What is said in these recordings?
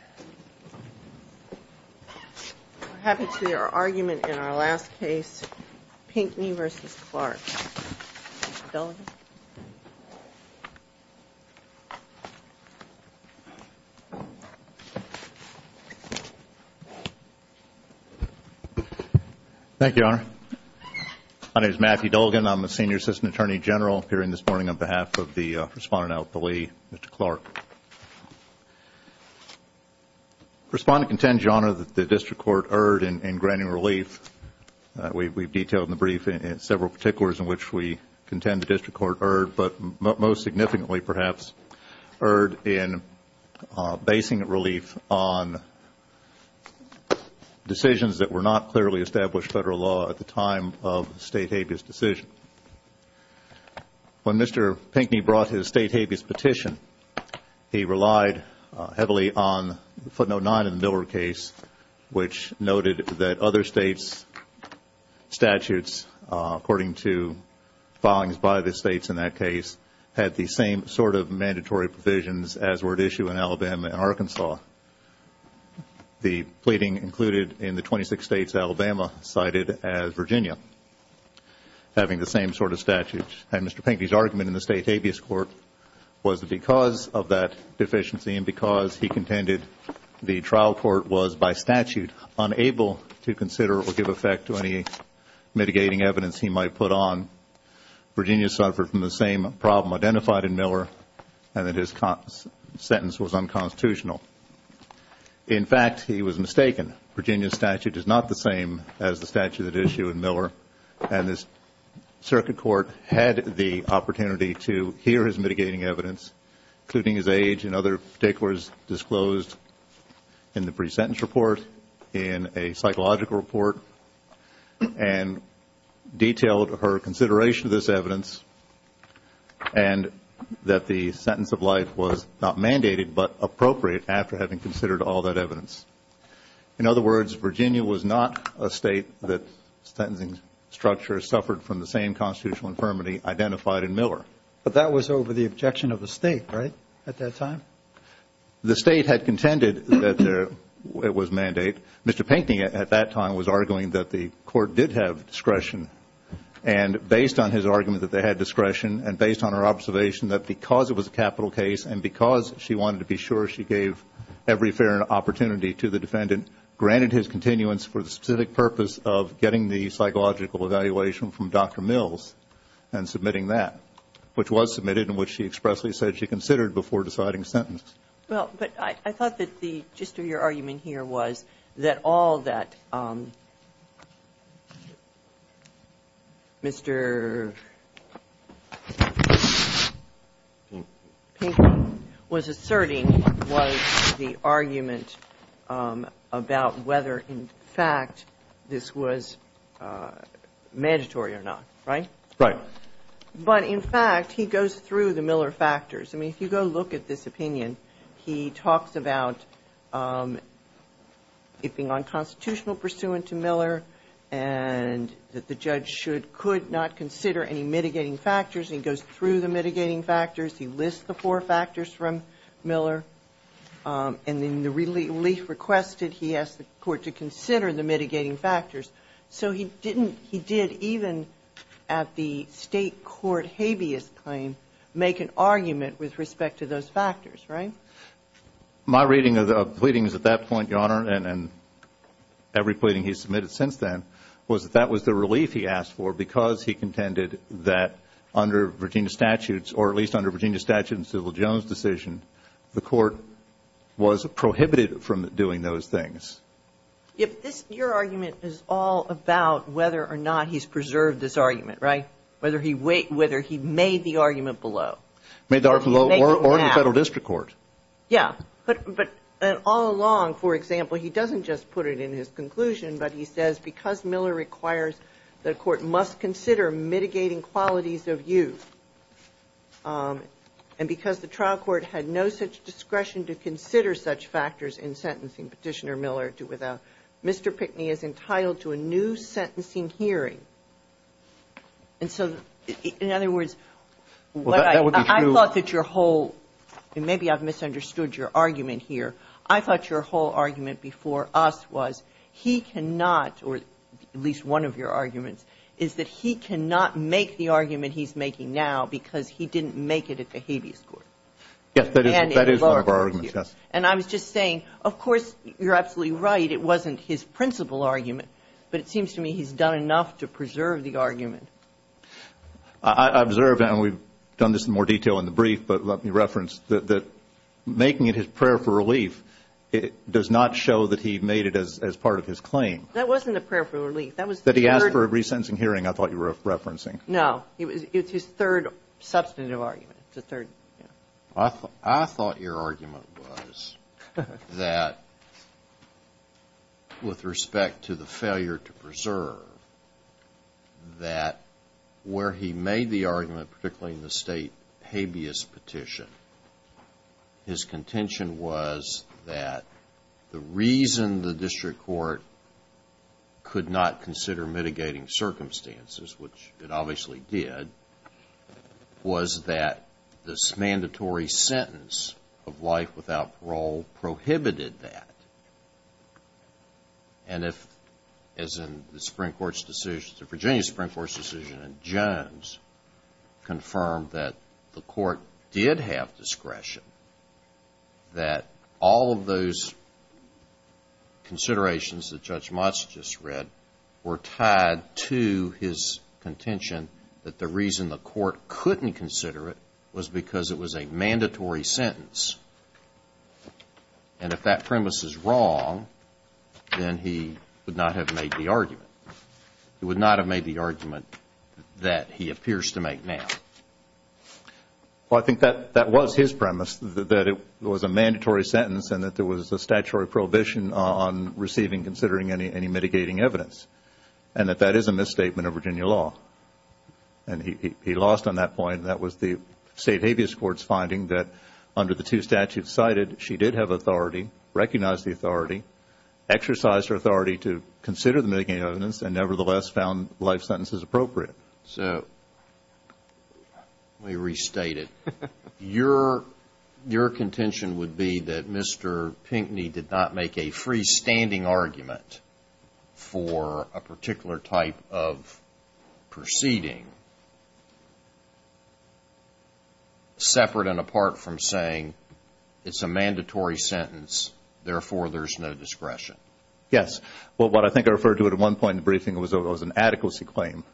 I'm happy to see our argument in our last case, Pinckney v. Clarke. Thank you, Your Honor. My name is Matthew Dolgan. I'm a senior assistant attorney general appearing this morning on behalf of the respondent out at the Lee, Mr. Clarke. Respondent contends, Your Honor, that the district court erred in granting relief. We've detailed in the brief several particulars in which we contend the district court erred, but most significantly, perhaps, erred in basing relief on decisions that were not clearly established by federal law at the time of the state habeas decision. When Mr. Pinckney brought his state habeas petition, he relied heavily on footnote 9 in the Miller case, which noted that other states' statutes, according to filings by the states in that case, had the same sort of mandatory provisions as were at issue in Alabama and Arkansas. The pleading included in the 26 states Alabama cited as Virginia. Having the same sort of statute. And Mr. Pinckney's argument in the state habeas court was that because of that deficiency and because he contended the trial court was, by statute, unable to consider or give effect to any mitigating evidence he might put on, Virginia suffered from the same problem identified in Miller and that his sentence was unconstitutional. In fact, he was mistaken. Virginia's statute is not the same as the statute at issue in Miller, and this circuit court had the opportunity to hear his mitigating evidence, including his age and other particulars disclosed in the pre-sentence report, in a psychological report, and detailed her consideration of this evidence and that the sentence of life was not mandated but appropriate after having considered all that evidence. In other words, Virginia was not a state that sentencing structure suffered from the same constitutional infirmity identified in Miller. But that was over the objection of the state, right, at that time? The state had contended that it was mandate. Mr. Pinckney at that time was arguing that the court did have discretion, and based on his argument that they had discretion and based on her observation that because it was a capital case and because she wanted to be sure she gave every fair opportunity to the defendant, granted his continuance for the specific purpose of getting the psychological evaluation from Dr. Mills and submitting that, which was submitted and which she expressly Well, but I thought that the gist of your argument here was that all that Mr. Pinckney was asserting was the argument about whether, in fact, this was mandatory or not, right? Right. But, in fact, he goes through the Miller factors. I mean, if you go look at this opinion, he talks about it being unconstitutional pursuant to Miller and that the judge should, could not consider any mitigating factors. And he goes through the mitigating factors. He lists the four factors from Miller. And in the relief requested, he asked the court to consider the mitigating factors. So he didn't, he did even at the State court habeas claim make an argument with respect to those factors, right? My reading of the pleadings at that point, Your Honor, and every pleading he's submitted since then, was that that was the relief he asked for because he contended that under Virginia statutes, or at least under Virginia statute and civil Jones decision, the court was prohibited from doing those things. Your argument is all about whether or not he's preserved this argument, right? Whether he made the argument below. Made the argument below or in the Federal district court. Yeah. But all along, for example, he doesn't just put it in his conclusion, but he says because Miller requires the court must consider mitigating qualities of use, and because the trial court had no such discretion to consider such factors in sentencing Petitioner Miller, Mr. Pickney is entitled to a new sentencing hearing. And so, in other words, what I thought that your whole, and maybe I've misunderstood your argument here, I thought your whole argument before us was he cannot, or at least one of your arguments, is that he cannot make the argument he's making now because he didn't make it at the habeas court. Yes, that is one of our arguments, yes. And I was just saying, of course, you're absolutely right, it wasn't his principal argument, but it seems to me he's done enough to preserve the argument. I observe, and we've done this in more detail in the brief, but let me reference that making it his prayer for relief does not show that he made it as part of his claim. That wasn't a prayer for relief. That was the third. That he asked for a resentencing hearing I thought you were referencing. No. It's his third substantive argument, the third. I thought your argument was that with respect to the failure to preserve, that where he made the argument, particularly in the state habeas petition, his contention was that the reason the district court could not consider mitigating circumstances, which it obviously did, was that this mandatory sentence of life without parole prohibited that. And if, as in the Virginia Supreme Court's decision in Jones, confirmed that the court did have discretion, that all of those considerations that Judge Motz just read were tied to his contention that the reason the court couldn't consider it was because it was a mandatory sentence. And if that premise is wrong, then he would not have made the argument. He would not have made the argument that he appears to make now. Well, I think that was his premise, that it was a mandatory sentence and that there mitigating evidence, and that that is a misstatement of Virginia law. And he lost on that point. That was the state habeas court's finding that under the two statutes cited, she did have authority, recognized the authority, exercised her authority to consider the mitigating evidence, and nevertheless found life sentences appropriate. So let me restate it. Your contention would be that Mr. Pinkney did not make a freestanding argument for a particular type of proceeding separate and apart from saying it's a mandatory sentence, therefore there's no discretion. Yes. Well, what I think I referred to at one point in the briefing was an adequacy claim.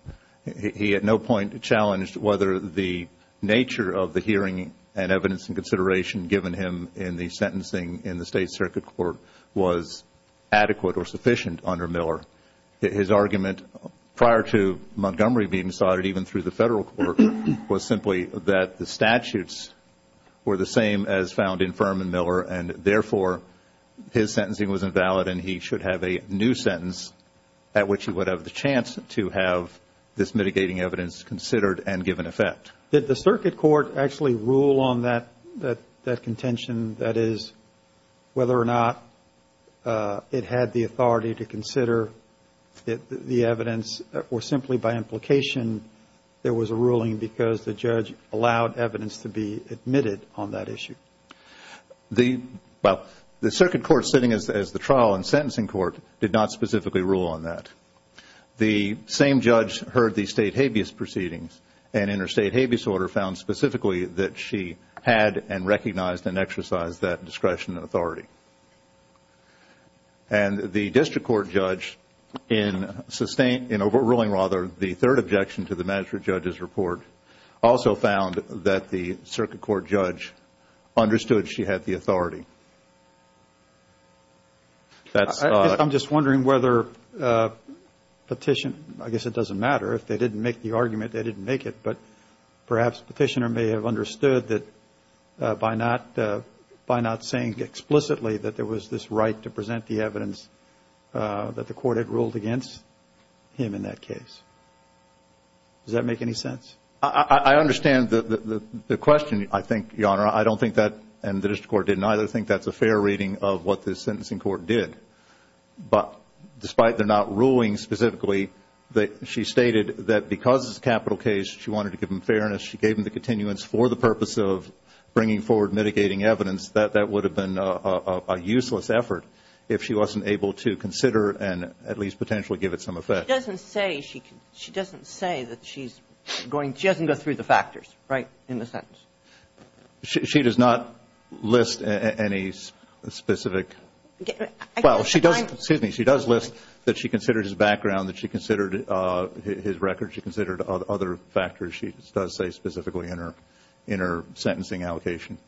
He at no point challenged whether the nature of the hearing and evidence and consideration given him in the sentencing in the state circuit court was adequate or sufficient under Miller. His argument prior to Montgomery being cited, even through the federal court, was simply that the statutes were the same as found in Furman Miller, and therefore his sentencing was invalid and he should have a new sentence at which he would have the mitigating evidence considered and given effect. Did the circuit court actually rule on that contention, that is, whether or not it had the authority to consider the evidence, or simply by implication there was a ruling because the judge allowed evidence to be admitted on that issue? Well, the circuit court sitting as the trial and sentencing court did not specifically rule on that. The same judge heard the state habeas proceedings and in her state habeas order found specifically that she had and recognized and exercised that discretion and authority. And the district court judge in overruling the third objection to the magistrate judge's report also found that the circuit court judge understood she had the authority. I'm just wondering whether Petitioner, I guess it doesn't matter, if they didn't make the argument they didn't make it, but perhaps Petitioner may have understood that by not saying explicitly that there was this right to present the evidence that the court had ruled against him in that case. Does that make any sense? I understand the question, I think, Your Honor. I don't think that, and the district court didn't either, think that's a fair reading of what the sentencing court did. But despite their not ruling specifically, she stated that because it's a capital case, she wanted to give him fairness. She gave him the continuance for the purpose of bringing forward mitigating evidence. That would have been a useless effort if she wasn't able to consider and at least potentially give it some effect. She doesn't say that she's going to go through the factors, right, in the sentence? She does not list any specific, well, she does, excuse me, she does list that she considered his background, that she considered his records, she considered other factors. She does say specifically in her sentencing allocation.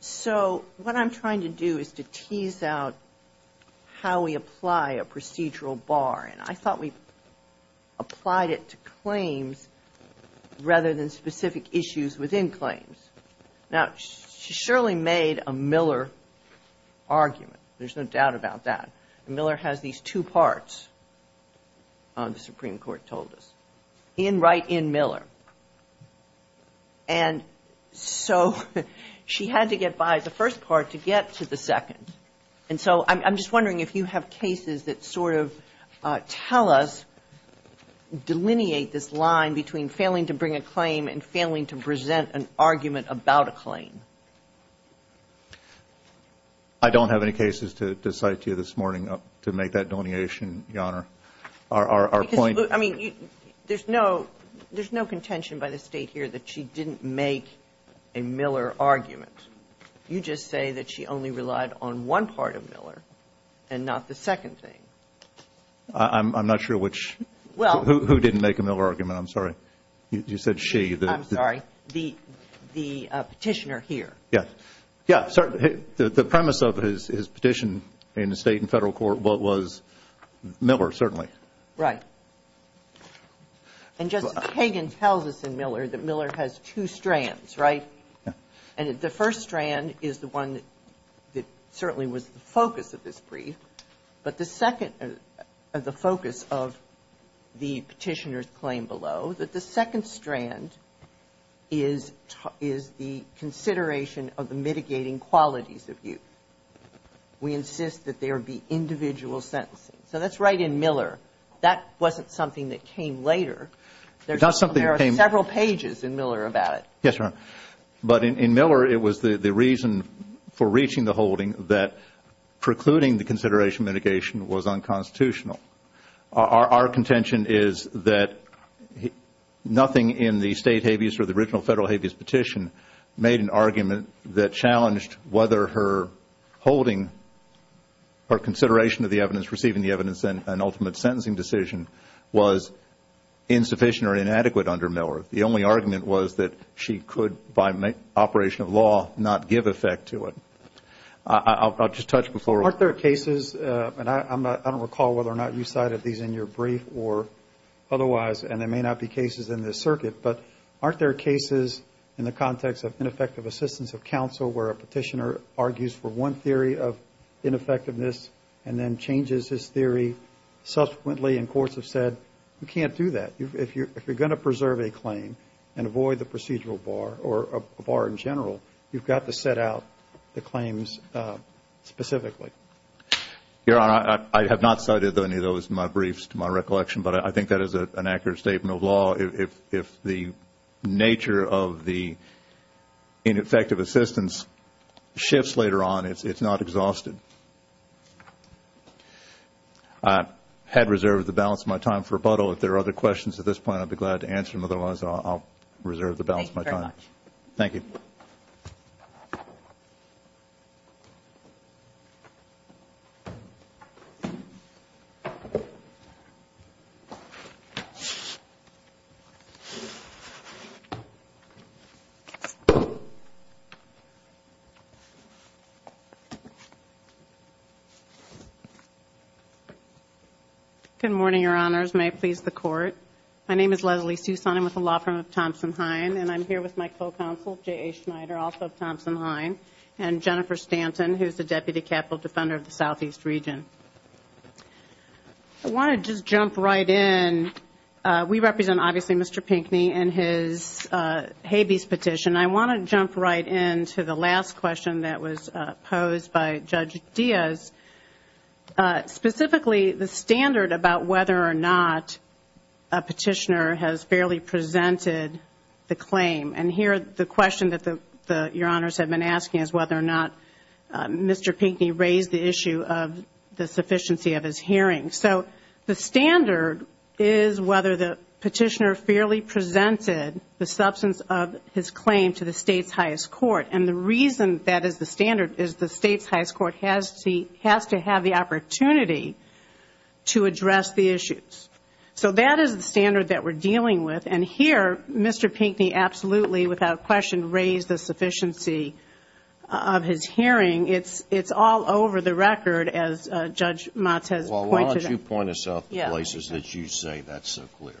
So what I'm trying to do is to tease out how we apply a procedural bar. And I thought we applied it to claims rather than specific issues within claims. Now, she surely made a Miller argument. There's no doubt about that. Miller has these two parts, the Supreme Court told us, in right in Miller. And so she had to get by the first part to get to the second. And so I'm just wondering if you have cases that sort of tell us, delineate this line between failing to bring a claim and failing to present an argument about a claim. I don't have any cases to cite to you this morning to make that delineation, Your Honor. Our point. I mean, there's no contention by the State here that she didn't make a Miller argument. You just say that she only relied on one part of Miller and not the second thing. I'm not sure which. Well. Who didn't make a Miller argument? I'm sorry. You said she. I'm sorry. The petitioner here. Yes. Yes. The premise of his petition in the State and Federal Court was Miller, certainly. Right. And Justice Kagan tells us in Miller that Miller has two strands, right? Yes. And the first strand is the one that certainly was the focus of this brief. But the second, the focus of the petitioner's claim below, that the second strand is the consideration of the mitigating qualities of you. We insist that there be individual sentencing. So that's right in Miller. That wasn't something that came later. Yes, Your Honor. But in Miller, it was the reason for reaching the holding that precluding the consideration mitigation was unconstitutional. Our contention is that nothing in the State habeas or the original Federal habeas petition made an argument that challenged whether her holding or consideration of the evidence, receiving the evidence, and ultimate sentencing decision was insufficient or inadequate under Miller. The only argument was that she could, by operation of law, not give effect to it. I'll just touch before. Aren't there cases, and I don't recall whether or not you cited these in your brief or otherwise, and they may not be cases in this circuit, but aren't there cases in the context of ineffective assistance of counsel where a petitioner argues for one theory of ineffectiveness and then changes his theory, subsequently in courts have said, you can't do that. If you're going to preserve a claim and avoid the procedural bar or a bar in general, you've got to set out the claims specifically. Your Honor, I have not cited any of those in my briefs to my recollection, but I think that is an accurate statement of law. If the nature of the ineffective assistance shifts later on, it's not exhausted. I had reserved the balance of my time for rebuttal. If there are other questions at this point, I'd be glad to answer them. Otherwise, I'll reserve the balance of my time. Thank you very much. Thank you. Good morning, Your Honors. May it please the Court. My name is Leslie Sousan. I'm with the law firm of Thompson-Hein. And I'm here with my co-counsel, J.A. Schneider, also of Thompson-Hein, and Jennifer Stanton, who's the Deputy Capital Defender of the Southeast Region. I want to just jump right in. We represent, obviously, Mr. Pinckney and his habeas petition. I want to jump right in to the last question that was posed by Judge Diaz. Specifically, the standard about whether or not a petitioner has fairly presented the claim. And here, the question that Your Honors have been asking is whether or not Mr. Pinckney raised the issue of the sufficiency of his hearing. So the standard is whether the petitioner fairly presented the substance of his claim to the state's highest court. And the reason that is the standard is the state's highest court has to have the opportunity to address the issues. So that is the standard that we're dealing with. And here, Mr. Pinckney absolutely, without question, raised the sufficiency of his hearing. It's all over the record, as Judge Mott has pointed out. Well, why don't you point us out the places that you say that's so clear.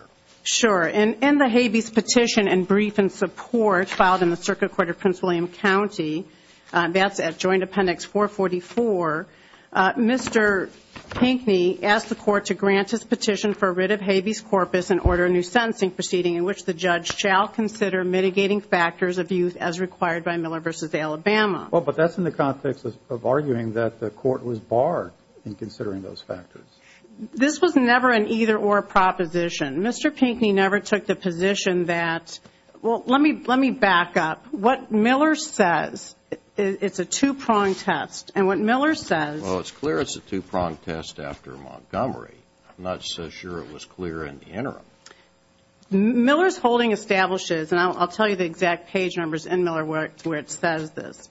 Sure. In the habeas petition and brief in support filed in the Circuit Court of Prince William County, that's at Joint Appendix 444, Mr. Pinckney asked the court to grant his petition for writ of habeas corpus and order a new sentencing proceeding in which the judge shall consider mitigating factors of use as required by Miller v. Alabama. Well, but that's in the context of arguing that the court was barred in considering those factors. This was never an either-or proposition. Mr. Pinckney never took the position that, well, let me back up. What Miller says, it's a two-pronged test, and what Miller says. Well, it's clear it's a two-pronged test after Montgomery. I'm not so sure it was clear in the interim. Miller's holding establishes, and I'll tell you the exact page numbers in Miller where it says this.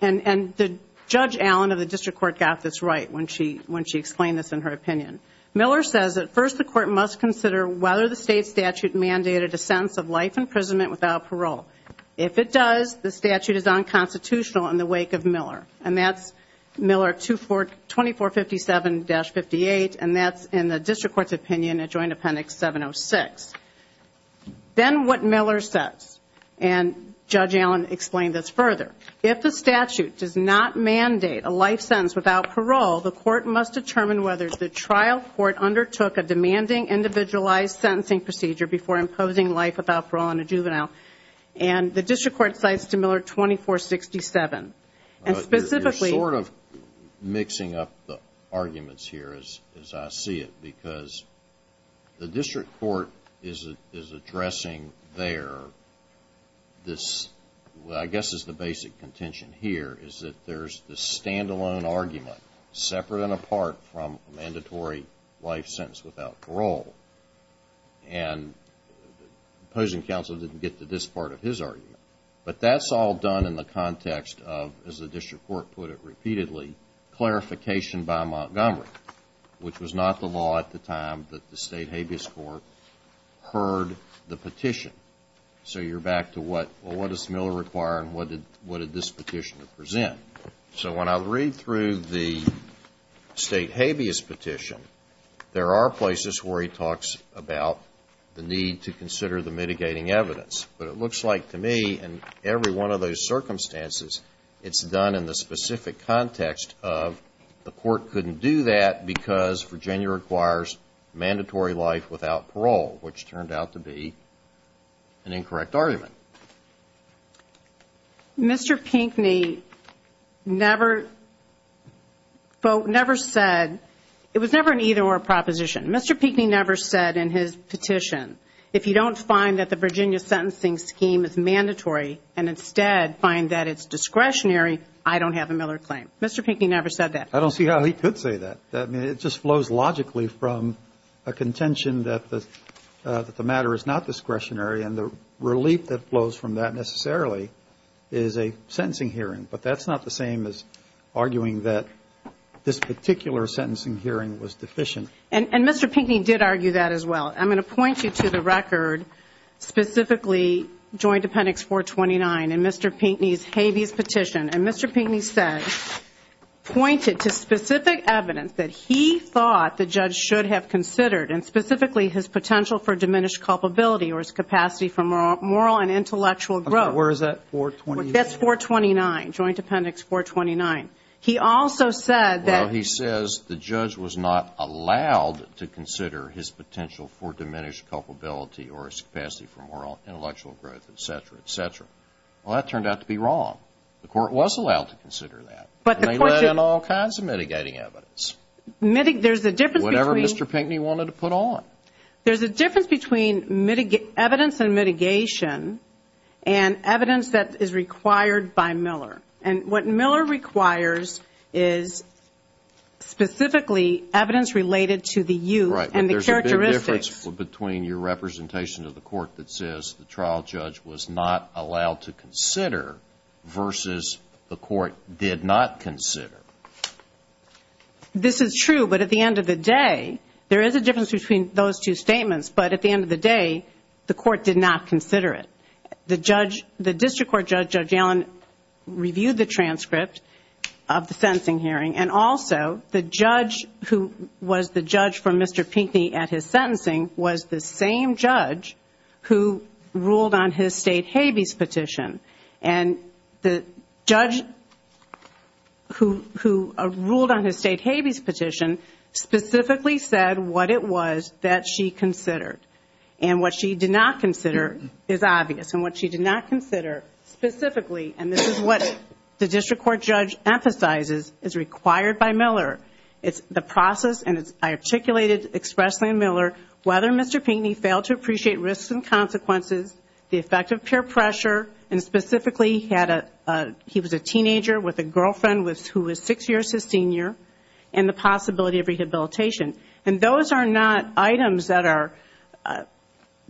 And Judge Allen of the district court got this right when she explained this in her opinion. Miller says that first the court must consider whether the state statute mandated a sentence of life imprisonment without parole. If it does, the statute is unconstitutional in the wake of Miller. And that's Miller 2457-58, and that's in the district court's opinion at Joint Appendix 706. Then what Miller says, and Judge Allen explained this further, if the statute does not mandate a life sentence without parole, the court must determine whether the trial court undertook a demanding individualized sentencing procedure before imposing life without parole on a juvenile. And the district court cites Miller 2467. And specifically ---- You're sort of mixing up the arguments here as I see it, because the district court is addressing there this, I guess is the basic contention here, is that there's this stand-alone argument separate and apart from a mandatory life sentence without parole. And the opposing counsel didn't get to this part of his argument. But that's all done in the context of, as the district court put it repeatedly, clarification by Montgomery, which was not the law at the time that the state habeas court heard the petition. So you're back to, well, what does Miller require and what did this petitioner present? So when I read through the state habeas petition, there are places where he talks about the need to consider the mitigating evidence. But it looks like to me, in every one of those circumstances, it's done in the specific context of the court couldn't do that because Virginia requires mandatory life without parole, which turned out to be an incorrect argument. Mr. Pinckney never said ---- it was never an either-or proposition. Mr. Pinckney never said in his petition, if you don't find that the Virginia sentencing scheme is mandatory and instead find that it's discretionary, I don't have a Miller claim. Mr. Pinckney never said that. I don't see how he could say that. I mean, it just flows logically from a contention that the matter is not discretionary, and the relief that flows from that necessarily is a sentencing hearing. But that's not the same as arguing that this particular sentencing hearing was deficient. And Mr. Pinckney did argue that as well. I'm going to point you to the record, specifically Joint Appendix 429 in Mr. Pinckney's habeas petition. And Mr. Pinckney said, pointed to specific evidence that he thought the judge should have considered, and specifically his potential for diminished culpability or his capacity for moral and intellectual growth. Where is that, 429? That's 429, Joint Appendix 429. He also said that ---- or his capacity for moral and intellectual growth, et cetera, et cetera. Well, that turned out to be wrong. The court was allowed to consider that. And they let in all kinds of mitigating evidence. There's a difference between ---- Whatever Mr. Pinckney wanted to put on. There's a difference between evidence and mitigation and evidence that is required by Miller. There's a difference between your representation of the court that says the trial judge was not allowed to consider versus the court did not consider. This is true. But at the end of the day, there is a difference between those two statements. But at the end of the day, the court did not consider it. The district court judge, Judge Allen, reviewed the transcript of the sentencing hearing. And also, the judge who was the judge for Mr. Pinckney at his sentencing was the same judge who ruled on his State Habeas Petition. And the judge who ruled on his State Habeas Petition specifically said what it was that she considered. And what she did not consider is obvious. And what she did not consider specifically, and this is what the district court judge emphasizes, is required by Miller. It's the process, and as I articulated expressly in Miller, whether Mr. Pinckney failed to appreciate risks and consequences, the effect of peer pressure, and specifically he was a teenager with a girlfriend who was six years his senior, and the possibility of rehabilitation. And those are not items that are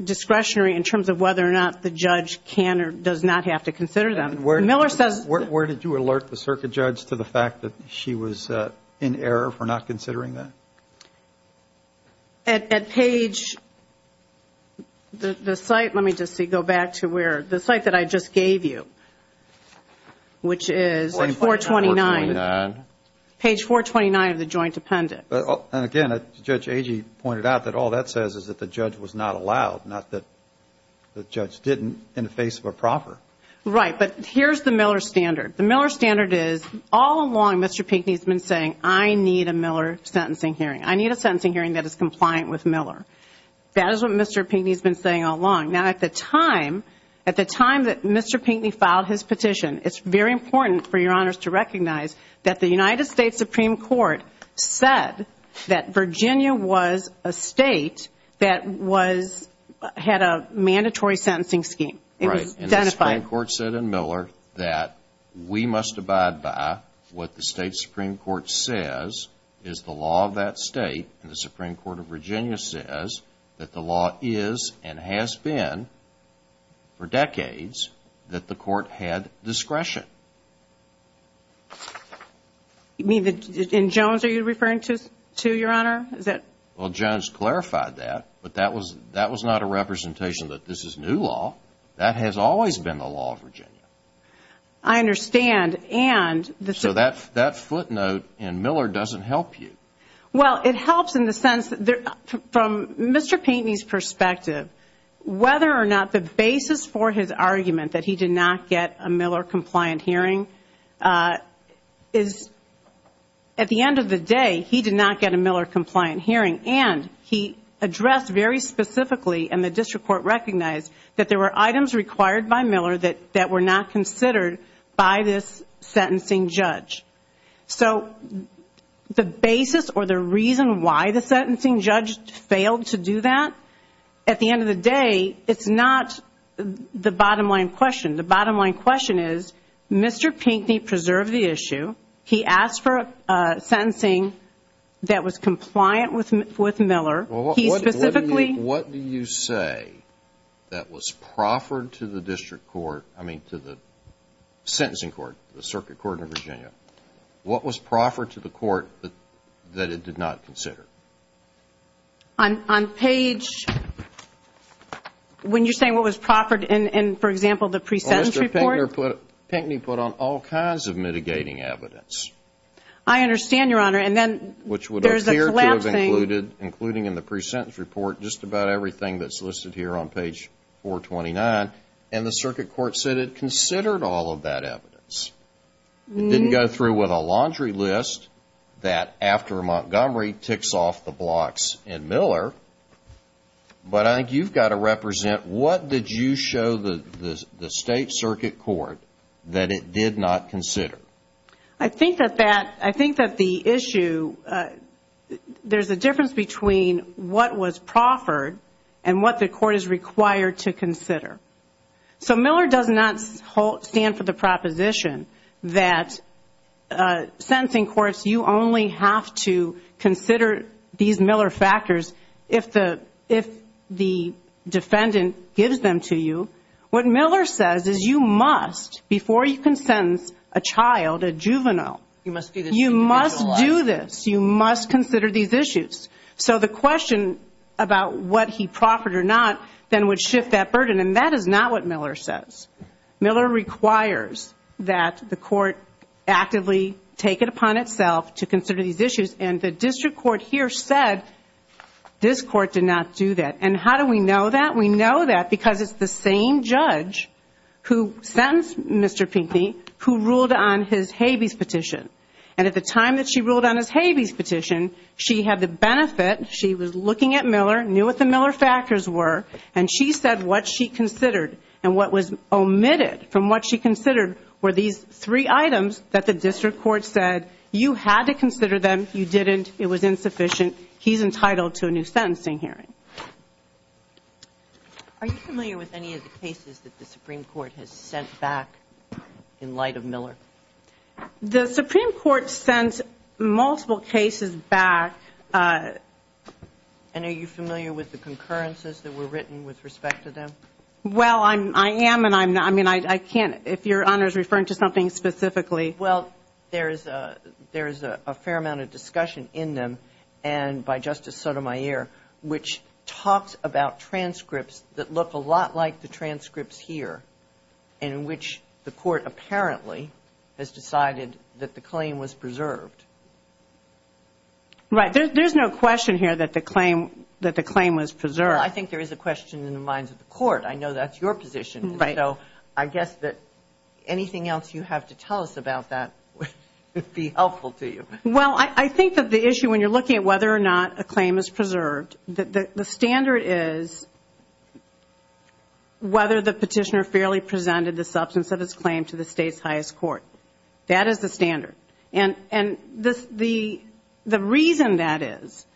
discretionary in terms of whether or not the judge can or does not have to consider them. Miller says. Where did you alert the circuit judge to the fact that she was in error for not considering that? At page, the site, let me just see, go back to where, the site that I just gave you, which is 429. Page 429 of the joint appendix. And again, Judge Agee pointed out that all that says is that the judge was not allowed, not that the judge didn't in the face of a proffer. Right, but here's the Miller standard. The Miller standard is all along Mr. Pinckney has been saying I need a Miller sentencing hearing. I need a sentencing hearing that is compliant with Miller. That is what Mr. Pinckney has been saying all along. Now at the time, at the time that Mr. Pinckney filed his petition, it's very important for your honors to recognize that the United States Supreme Court said that Virginia was a state that was, had a mandatory sentencing scheme. It was identified. And the Supreme Court said in Miller that we must abide by what the state Supreme Court says is the law of that state. And the Supreme Court of Virginia says that the law is and has been for decades that the court had discretion. You mean, in Jones, are you referring to your honor? Well, Jones clarified that, but that was not a representation that this is new law. That has always been the law of Virginia. I understand. So that footnote in Miller doesn't help you. Well, it helps in the sense that from Mr. Pinckney's perspective, whether or not the basis for his argument that he did not get a Miller-compliant hearing is, at the end of the day, he did not get a Miller-compliant hearing. And he addressed very specifically, and the district court recognized, that there were items required by Miller that were not considered by this sentencing judge. So the basis or the reason why the sentencing judge failed to do that, at the end of the day, it's not the bottom-line question. The bottom-line question is, Mr. Pinckney preserved the issue. He asked for sentencing that was compliant with Miller. Well, what do you say that was proffered to the district court, I mean to the sentencing court, the circuit court in Virginia? What was proffered to the court that it did not consider? On page, when you're saying what was proffered in, for example, the pre-sentence report? Well, Mr. Pinckney put on all kinds of mitigating evidence. I understand, Your Honor, and then there's a collapsing. Which would appear to have included, including in the pre-sentence report, just about everything that's listed here on page 429. And the circuit court said it considered all of that evidence. It didn't go through with a laundry list that, after Montgomery, ticks off the blocks in Miller. But I think you've got to represent what did you show the state circuit court that it did not consider. I think that the issue, there's a difference between what was proffered and what the court is required to consider. So Miller does not stand for the proposition that sentencing courts, you only have to consider these Miller factors if the defendant gives them to you. What Miller says is you must, before you can sentence a child, a juvenile, you must do this. You must consider these issues. So the question about what he proffered or not then would shift that burden. And that is not what Miller says. Miller requires that the court actively take it upon itself to consider these issues. And the district court here said this court did not do that. And how do we know that? We know that because it's the same judge who sentenced Mr. Pinckney, who ruled on his Habeas petition. And at the time that she ruled on his Habeas petition, she had the benefit, she was looking at Miller, knew what the Miller factors were, and she said what she considered and what was omitted from what she considered were these three items that the district court said you had to consider them, you didn't, it was insufficient, he's entitled to a new sentencing hearing. Are you familiar with any of the cases that the Supreme Court has sent back in light of Miller? The Supreme Court sends multiple cases back. And are you familiar with the concurrences that were written with respect to them? Well, I am and I can't, if Your Honor is referring to something specifically. Well, there is a fair amount of discussion in them and by Justice Sotomayor, which talks about transcripts that look a lot like the transcripts here in which the court apparently has decided that the claim was preserved. Right. There's no question here that the claim was preserved. Well, I think there is a question in the minds of the court. I know that's your position. Right. So I guess that anything else you have to tell us about that would be helpful to you. Well, I think that the issue when you're looking at whether or not a claim is preserved, the standard is whether the petitioner fairly presented the substance of his claim to the state's highest court. That is the standard. And the reason that is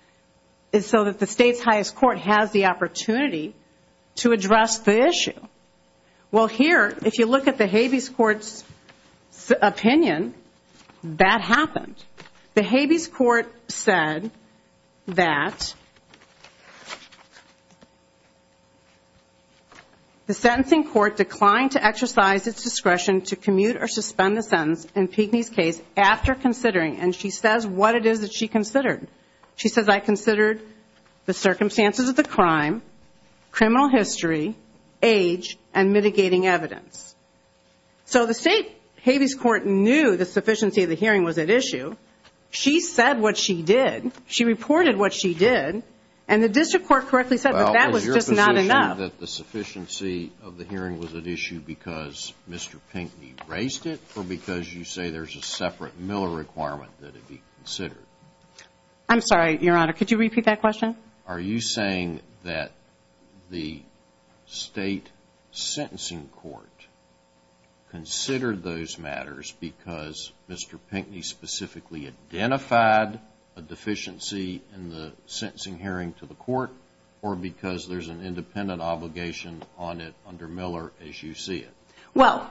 is so that the state's highest court has the opportunity to address the issue. Well, here, if you look at the Habeas Court's opinion, that happened. The Habeas Court said that the sentencing court declined to exercise its discretion to commute or suspend the sentence in Pinckney's case after considering, and she says what it is that she considered. She says, I considered the circumstances of the crime, criminal history, age, and mitigating evidence. So the state Habeas Court knew the sufficiency of the hearing was at issue. She said what she did. She reported what she did. And the district court correctly said that that was just not enough. Well, is your position that the sufficiency of the hearing was at issue because Mr. Pinckney raised it or because you say there's a separate Miller requirement that it be considered? I'm sorry, Your Honor. Could you repeat that question? Are you saying that the state sentencing court considered those matters because Mr. Pinckney specifically identified a deficiency in the sentencing hearing to the court or because there's an independent obligation on it under Miller as you see it? Well,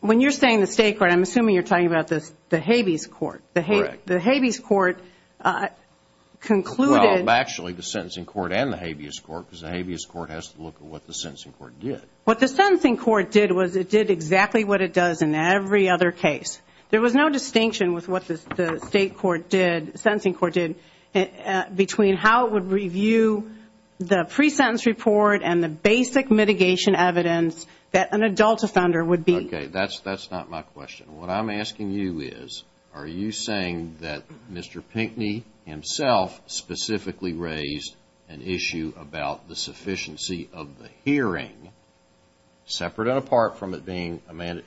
when you're saying the state court, I'm assuming you're talking about the Habeas Court. Correct. The Habeas Court concluded. Well, actually the sentencing court and the Habeas Court because the Habeas Court has to look at what the sentencing court did. What the sentencing court did was it did exactly what it does in every other case. There was no distinction with what the state court did, sentencing court did, between how it would review the pre-sentence report and the basic mitigation evidence that an adult offender would be. Okay. That's not my question. What I'm asking you is, are you saying that Mr. Pinckney himself specifically raised an issue about the sufficiency of the hearing, separate and apart from it being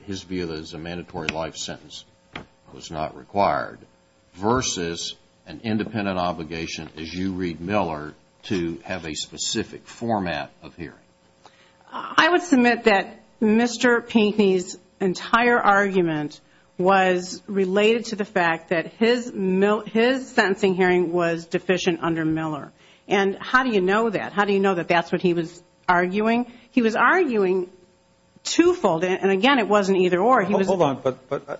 his view that it was a mandatory life sentence that was not required, versus an independent obligation, as you read Miller, to have a specific format of hearing? I would submit that Mr. Pinckney's entire argument was related to the fact that his sentencing hearing was deficient under Miller. And how do you know that? How do you know that that's what he was arguing? He was arguing twofold. And, again, it wasn't either or. Hold on. But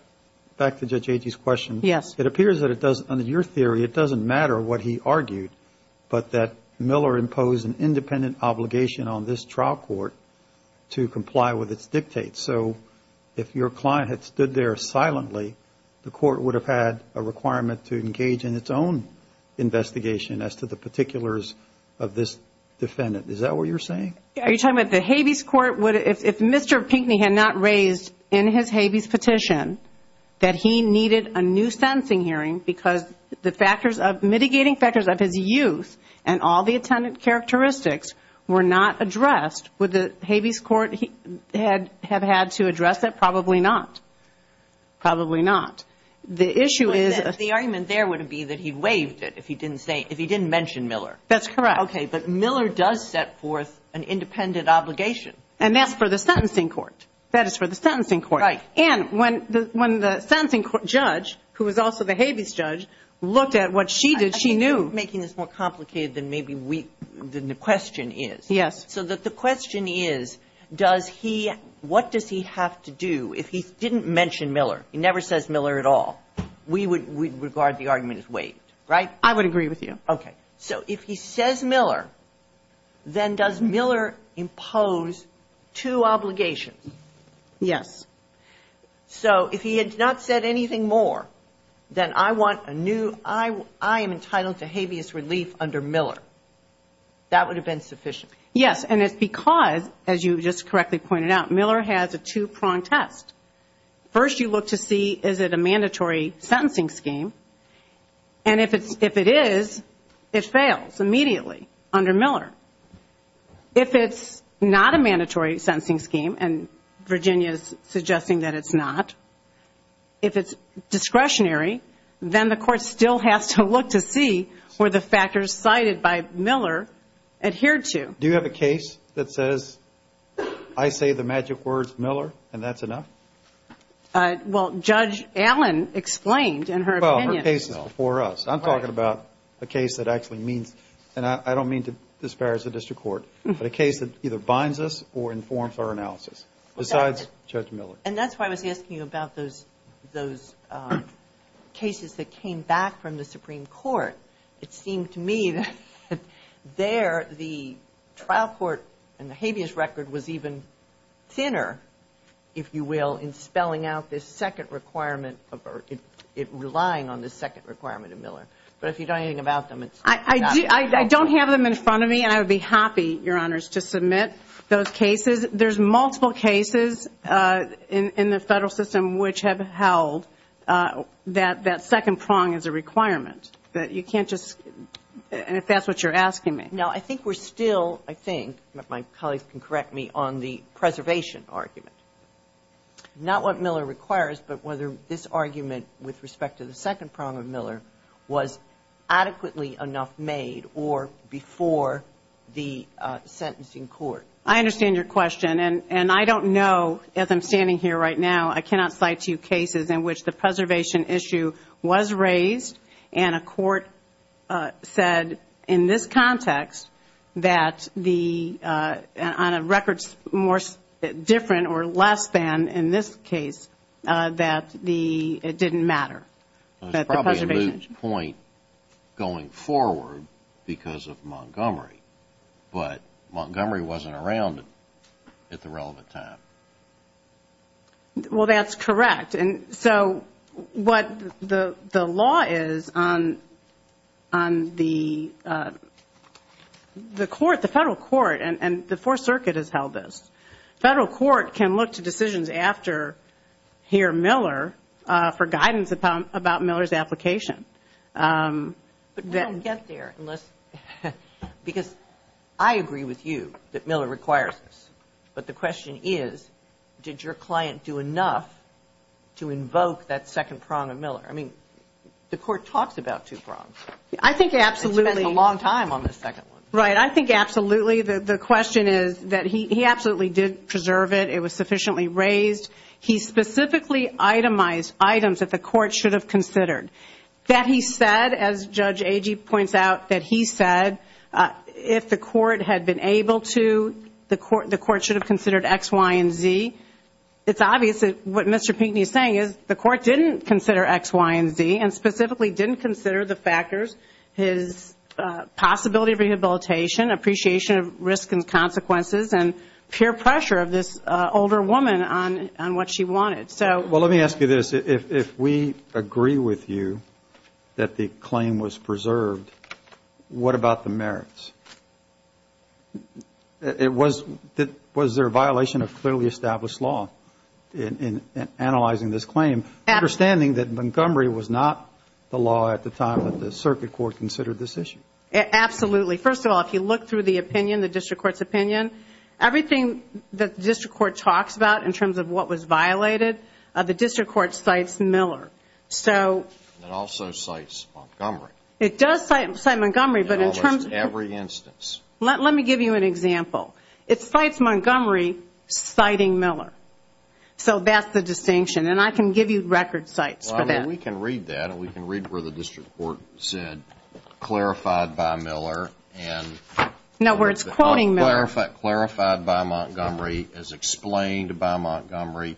back to Judge Agee's question. Yes. It appears that it doesn't, under your theory, it doesn't matter what he argued, but that Miller imposed an independent obligation on this trial court to comply with its dictates. So if your client had stood there silently, the court would have had a requirement to engage in its own investigation as to the particulars of this defendant. Is that what you're saying? Are you talking about the Habeas Court? If Mr. Pinckney had not raised in his Habeas petition that he needed a new sentencing hearing because the mitigating factors of his youth and all the attendant characteristics were not addressed, would the Habeas Court have had to address that? Probably not. Probably not. The issue is the argument there would be that he waived it if he didn't mention Miller. That's correct. Okay. But Miller does set forth an independent obligation. And that's for the sentencing court. That is for the sentencing court. Right. And when the sentencing court judge, who was also the Habeas judge, looked at what she did, she knew. I think you're making this more complicated than maybe the question is. Yes. So the question is, does he – what does he have to do if he didn't mention Miller? He never says Miller at all. We would regard the argument as waived, right? I would agree with you. Okay. So if he says Miller, then does Miller impose two obligations? Yes. So if he had not said anything more, then I want a new – I am entitled to habeas relief under Miller. That would have been sufficient. Yes. And it's because, as you just correctly pointed out, Miller has a two-prong test. First you look to see is it a mandatory sentencing scheme. And if it is, it fails immediately under Miller. If it's not a mandatory sentencing scheme, and Virginia is suggesting that it's not, if it's discretionary, then the court still has to look to see were the factors cited by Miller adhered to. Do you have a case that says I say the magic words Miller and that's enough? Well, Judge Allen explained in her opinion. Well, her case is before us. I'm talking about a case that actually means, and I don't mean to disparage the district court, but a case that either binds us or informs our analysis besides Judge Miller. And that's why I was asking you about those cases that came back from the Supreme Court. It seemed to me that there the trial court and the habeas record was even thinner, if you will, in spelling out this second requirement, relying on the second requirement of Miller. But if you don't know anything about them, it's not helpful. I don't have them in front of me, and I would be happy, Your Honors, to submit those cases. There's multiple cases in the federal system which have held that second prong as a requirement. You can't just, and if that's what you're asking me. Now, I think we're still, I think, if my colleagues can correct me, on the preservation argument. Not what Miller requires, but whether this argument with respect to the second prong of Miller was adequately enough made or before the sentencing court. I understand your question, and I don't know, as I'm standing here right now, I cannot cite two cases in which the preservation issue was raised and a court said in this context that on a record different or less than in this case that it didn't matter. It was probably a moot point going forward because of Montgomery, but Montgomery wasn't around at the relevant time. Well, that's correct. And so what the law is on the court, the federal court, and the Fourth Circuit has held this. Federal court can look to decisions after, here Miller, for guidance about Miller's application. But we don't get there unless, because I agree with you that Miller requires this. But the question is, did your client do enough to invoke that second prong of Miller? I mean, the court talks about two prongs. I think absolutely. It spends a long time on the second one. Right. I think absolutely. The question is that he absolutely did preserve it. It was sufficiently raised. He specifically itemized items that the court should have considered. That he said, as Judge Agee points out, that he said if the court had been able to, the court should have considered X, Y, and Z. It's obvious that what Mr. Pinkney is saying is the court didn't consider X, Y, and Z, and specifically didn't consider the factors, his possibility of rehabilitation, appreciation of risk and consequences, and peer pressure of this older woman on what she wanted. Well, let me ask you this. If we agree with you that the claim was preserved, what about the merits? Was there a violation of clearly established law in analyzing this claim, understanding that Montgomery was not the law at the time that the circuit court considered this issue? Absolutely. First of all, if you look through the opinion, the district court's opinion, everything that the district court talks about in terms of what was violated, the district court cites Miller. It also cites Montgomery. It does cite Montgomery. In almost every instance. Let me give you an example. It cites Montgomery citing Miller. So that's the distinction. And I can give you record cites for that. We can read that. We can read where the district court said, clarified by Miller. No, where it's quoting Miller. Clarified by Montgomery, as explained by Montgomery,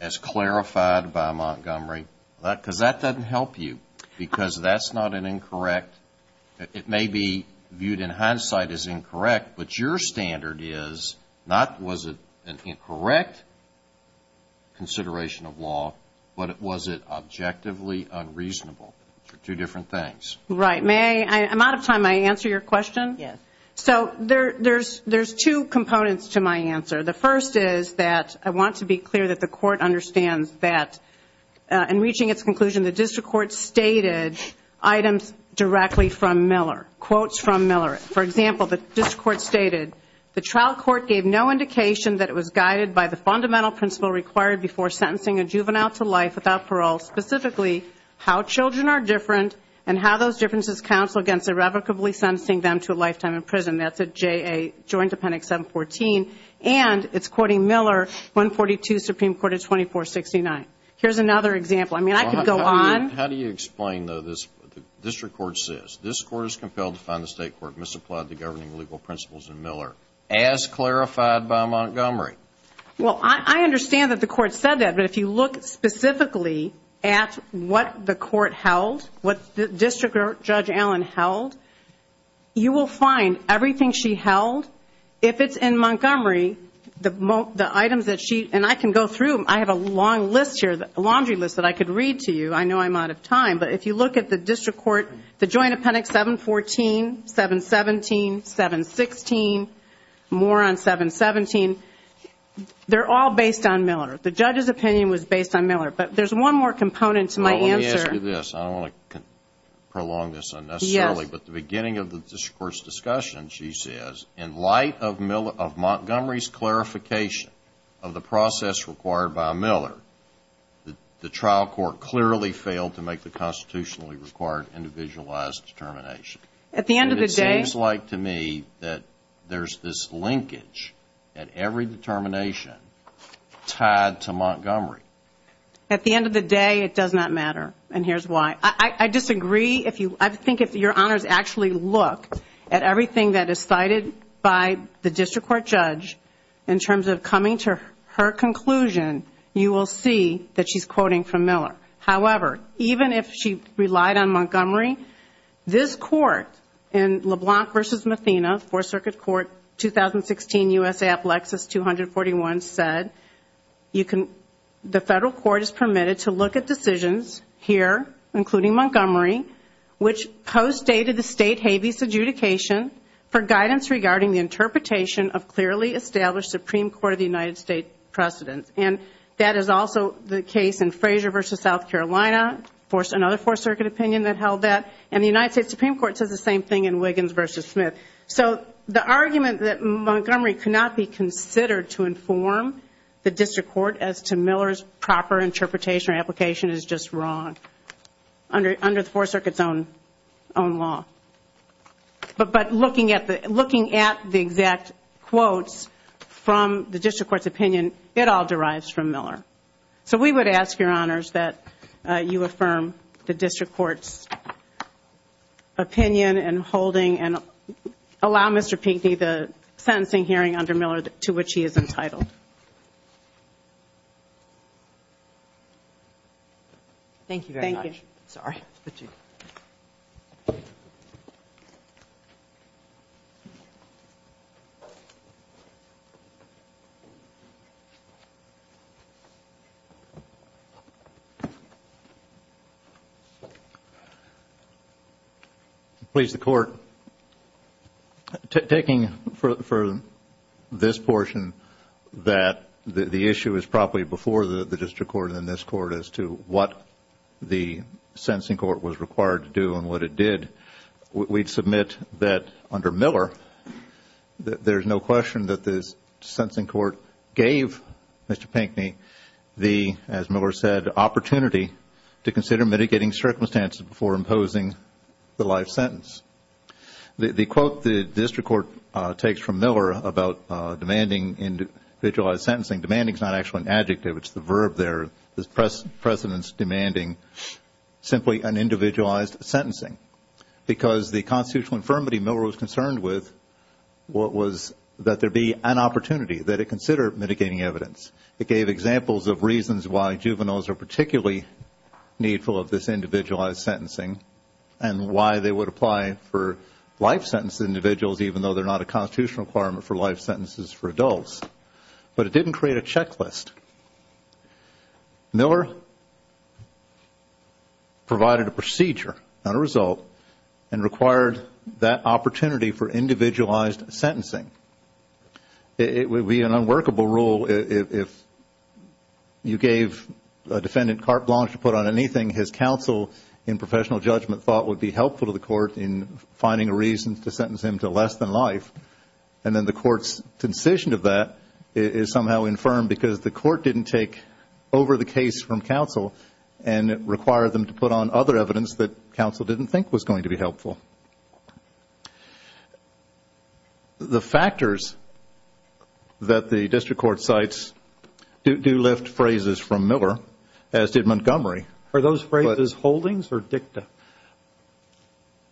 as clarified by Montgomery. Because that doesn't help you. Because that's not an incorrect. It may be viewed in hindsight as incorrect, but your standard is not was it an incorrect consideration of law, but was it objectively unreasonable? Two different things. Right. May I? I'm out of time. May I answer your question? Yes. So there's two components to my answer. The first is that I want to be clear that the court understands that in reaching its conclusion, the district court stated items directly from Miller, quotes from Miller. For example, the district court stated, the trial court gave no indication that it was guided by the fundamental principle required before sentencing a juvenile to life without parole, specifically how children are different and how those differences counsel against irrevocably sentencing them to a lifetime in prison. That's at JA Joint Appendix 714. And it's quoting Miller, 142 Supreme Court of 2469. Here's another example. I mean, I could go on. How do you explain, though, the district court says, this court is compelled to find the state court misapplied the governing legal principles in Miller, as clarified by Montgomery? Well, I understand that the court said that, but if you look specifically at what the court held, what District Judge Allen held, you will find everything she held, if it's in Montgomery, the items that she, and I can go through. I have a long list here, a laundry list that I could read to you. I know I'm out of time. But if you look at the district court, the Joint Appendix 714, 717, 716, more on 717, they're all based on Miller. The judge's opinion was based on Miller. But there's one more component to my answer. Let me ask you this. I don't want to prolong this unnecessarily. Yes. But the beginning of the district court's discussion, she says, in light of Montgomery's clarification of the process required by Miller, the trial court clearly failed to make the constitutionally required individualized determination. At the end of the day. It seems like to me that there's this linkage at every determination tied to Montgomery. At the end of the day, it does not matter, and here's why. I disagree. I think if your honors actually look at everything that is cited by the district court judge, in terms of coming to her conclusion, you will see that she's quoting from Miller. However, even if she relied on Montgomery, this court in LeBlanc v. Mathena, Fourth Circuit Court, 2016 U.S.A. Applexus 241 said, the federal court is permitted to look at decisions here, including Montgomery, which postdated the state habeas adjudication for guidance regarding the interpretation of clearly established Supreme Court of the United States precedents. And that is also the case in Frazier v. South Carolina, another Fourth Circuit opinion that held that. And the United States Supreme Court says the same thing in Wiggins v. Smith. So the argument that Montgomery cannot be considered to inform the district court as to Miller's proper interpretation or application is just wrong under the Fourth Circuit's own law. But looking at the exact quotes from the district court's opinion, it all derives from Miller. So we would ask, Your Honors, that you affirm the district court's opinion and holding and allow Mr. Pinkney the sentencing hearing under Miller to which he is entitled. Thank you very much. Thank you. Sorry. Please, the Court. Taking for this portion that the issue is probably before the district court and this court as to what the sentencing court was required to do and what it did, we'd submit that under Miller there's no question that the sentencing court gave Mr. Pinkney the, as Miller said, opportunity to consider mitigating circumstances before imposing the life sentence. The quote the district court takes from Miller about demanding individualized sentencing, demanding is not actually an adjective, it's the verb there, the precedence demanding simply an individualized sentencing. Because the constitutional infirmity Miller was concerned with was that there be an opportunity, that it consider mitigating evidence. It gave examples of reasons why juveniles are particularly needful of this individualized sentencing and why they would apply for life sentence individuals, even though they're not a constitutional requirement for life sentences for adults. But it didn't create a checklist. Miller provided a procedure, not a result, and required that opportunity for individualized sentencing. It would be an unworkable rule if you gave a defendant carte blanche to put on anything, his counsel in professional judgment thought would be helpful to the court in finding a reason to sentence him to less than life. And then the court's decision of that is somehow infirm because the court didn't take over the case from counsel and require them to put on other evidence that counsel didn't think was going to be helpful. The factors that the district court cites do lift phrases from Miller, as did Montgomery. Are those phrases holdings or dicta?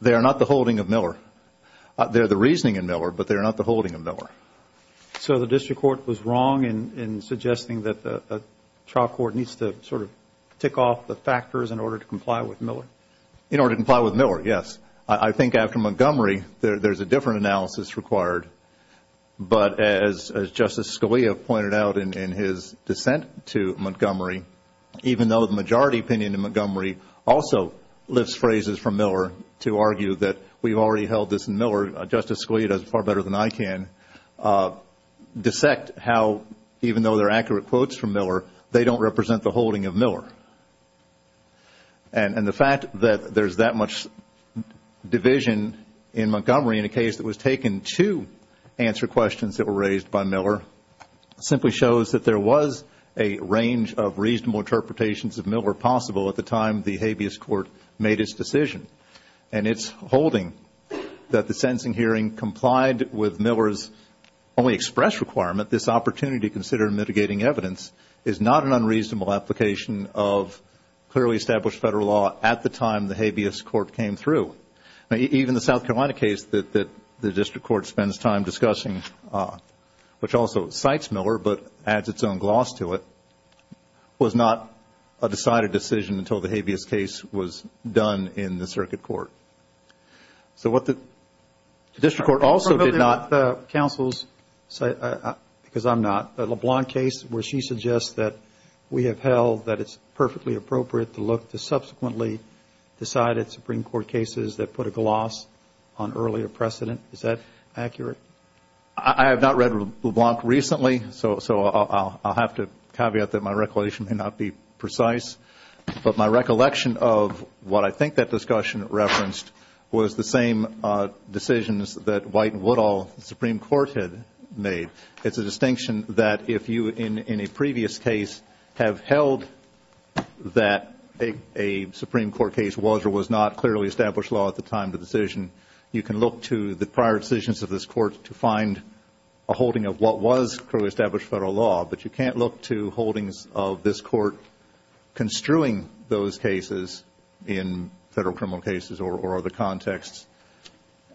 They are not the holding of Miller. They're the reasoning in Miller, but they're not the holding of Miller. So the district court was wrong in suggesting that the trial court needs to sort of tick off the factors in order to comply with Miller? In order to comply with Miller, yes. I think after Montgomery, there's a different analysis required. But as Justice Scalia pointed out in his dissent to Montgomery, even though the majority opinion in Montgomery also lifts phrases from Miller to argue that we've already held this in Miller, Justice Scalia does it far better than I can, dissect how even though they're accurate quotes from Miller, they don't represent the holding of Miller. And the fact that there's that much division in Montgomery in a case that was taken to answer questions that were raised by Miller simply shows that there was a range of reasonable interpretations of Miller possible at the time the habeas court made its decision. And its holding that the sentencing hearing complied with Miller's only express requirement, this opportunity to consider mitigating evidence, is not an unreasonable application of clearly established federal law at the time the habeas court came through. Even the South Carolina case that the district court spends time discussing, which also cites Miller but adds its own gloss to it, was not a decided decision until the habeas case was done in the circuit court. So what the district court also did not. Counsel, because I'm not, the LeBlanc case where she suggests that we have held that it's perfectly appropriate to look to subsequently decide at Supreme Court cases that put a gloss on earlier precedent, is that accurate? I have not read LeBlanc recently, so I'll have to caveat that my recollection may not be precise. But my recollection of what I think that discussion referenced was the same decisions that White and Woodall, the Supreme Court, had made. It's a distinction that if you, in a previous case, have held that a Supreme Court case was or was not clearly established law at the time of the decision, you can look to the prior decisions of this court to find a holding of what was clearly established federal law, but you can't look to holdings of this court construing those cases in federal criminal cases or other contexts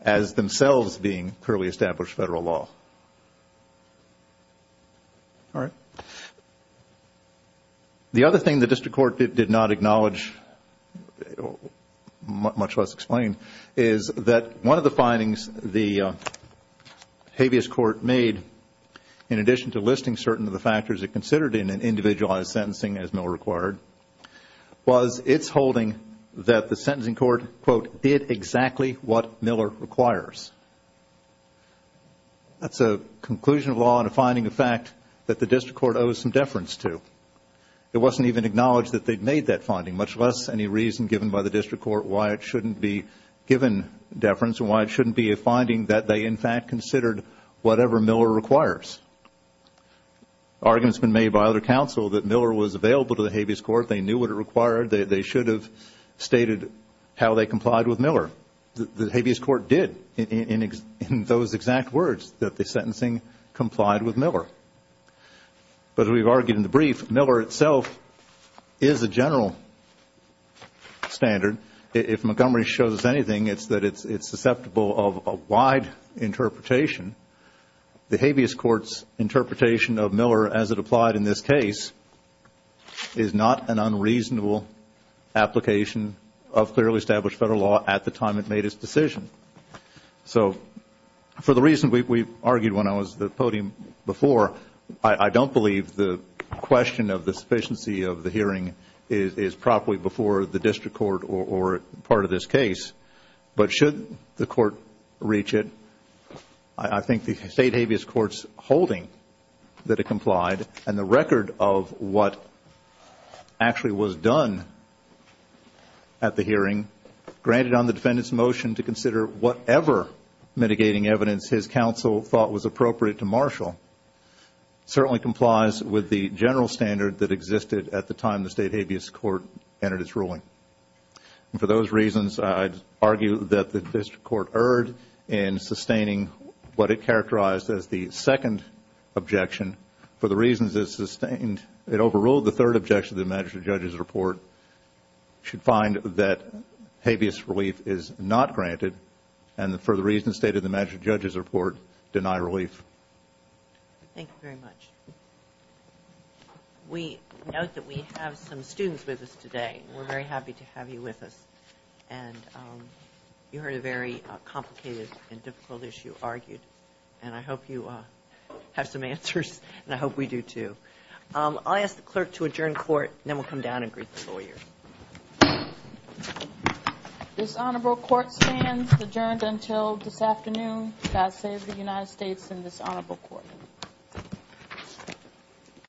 as themselves being clearly established federal law. All right. The other thing the district court did not acknowledge, much less explain, is that one of the findings the habeas court made, in addition to listing certain of the factors it considered in an individualized sentencing, as Mill required, was its holding that the sentencing court, quote, did exactly what Miller requires. That's a conclusion of law and a finding of fact that the district court owes some deference to. It wasn't even acknowledged that they'd made that finding, much less any reason given by the district court why it shouldn't be given deference and why it shouldn't be a finding that they, in fact, considered whatever Miller requires. Arguments have been made by other counsel that Miller was available to the habeas court. They knew what it required. They should have stated how they complied with Miller. The habeas court did, in those exact words, that the sentencing complied with Miller. But as we've argued in the brief, Miller itself is a general standard. If Montgomery shows us anything, it's that it's susceptible of a wide interpretation. The habeas court's interpretation of Miller, as it applied in this case, is not an unreasonable application of clearly established federal law at the time it made its decision. So for the reason we argued when I was at the podium before, I don't believe the question of the sufficiency of the hearing is properly before the district court or part of this case. But should the court reach it, I think the state habeas court's holding that it complied and the record of what actually was done at the hearing, granted on the defendant's motion to consider whatever mitigating evidence his counsel thought was appropriate to marshal, certainly complies with the general standard that existed at the time the state habeas court entered its ruling. And for those reasons, I'd argue that the district court erred in sustaining what it characterized as the second objection. For the reasons it sustained, it overruled the third objection to the magistrate judge's report, should find that habeas relief is not granted, and for the reasons stated in the magistrate judge's report, deny relief. Thank you very much. We note that we have some students with us today. We're very happy to have you with us. And you heard a very complicated and difficult issue argued, and I hope you have some answers, and I hope we do too. I'll ask the clerk to adjourn court, and then we'll come down and greet the lawyers. This honorable court stands adjourned until this afternoon. God save the United States and this honorable court.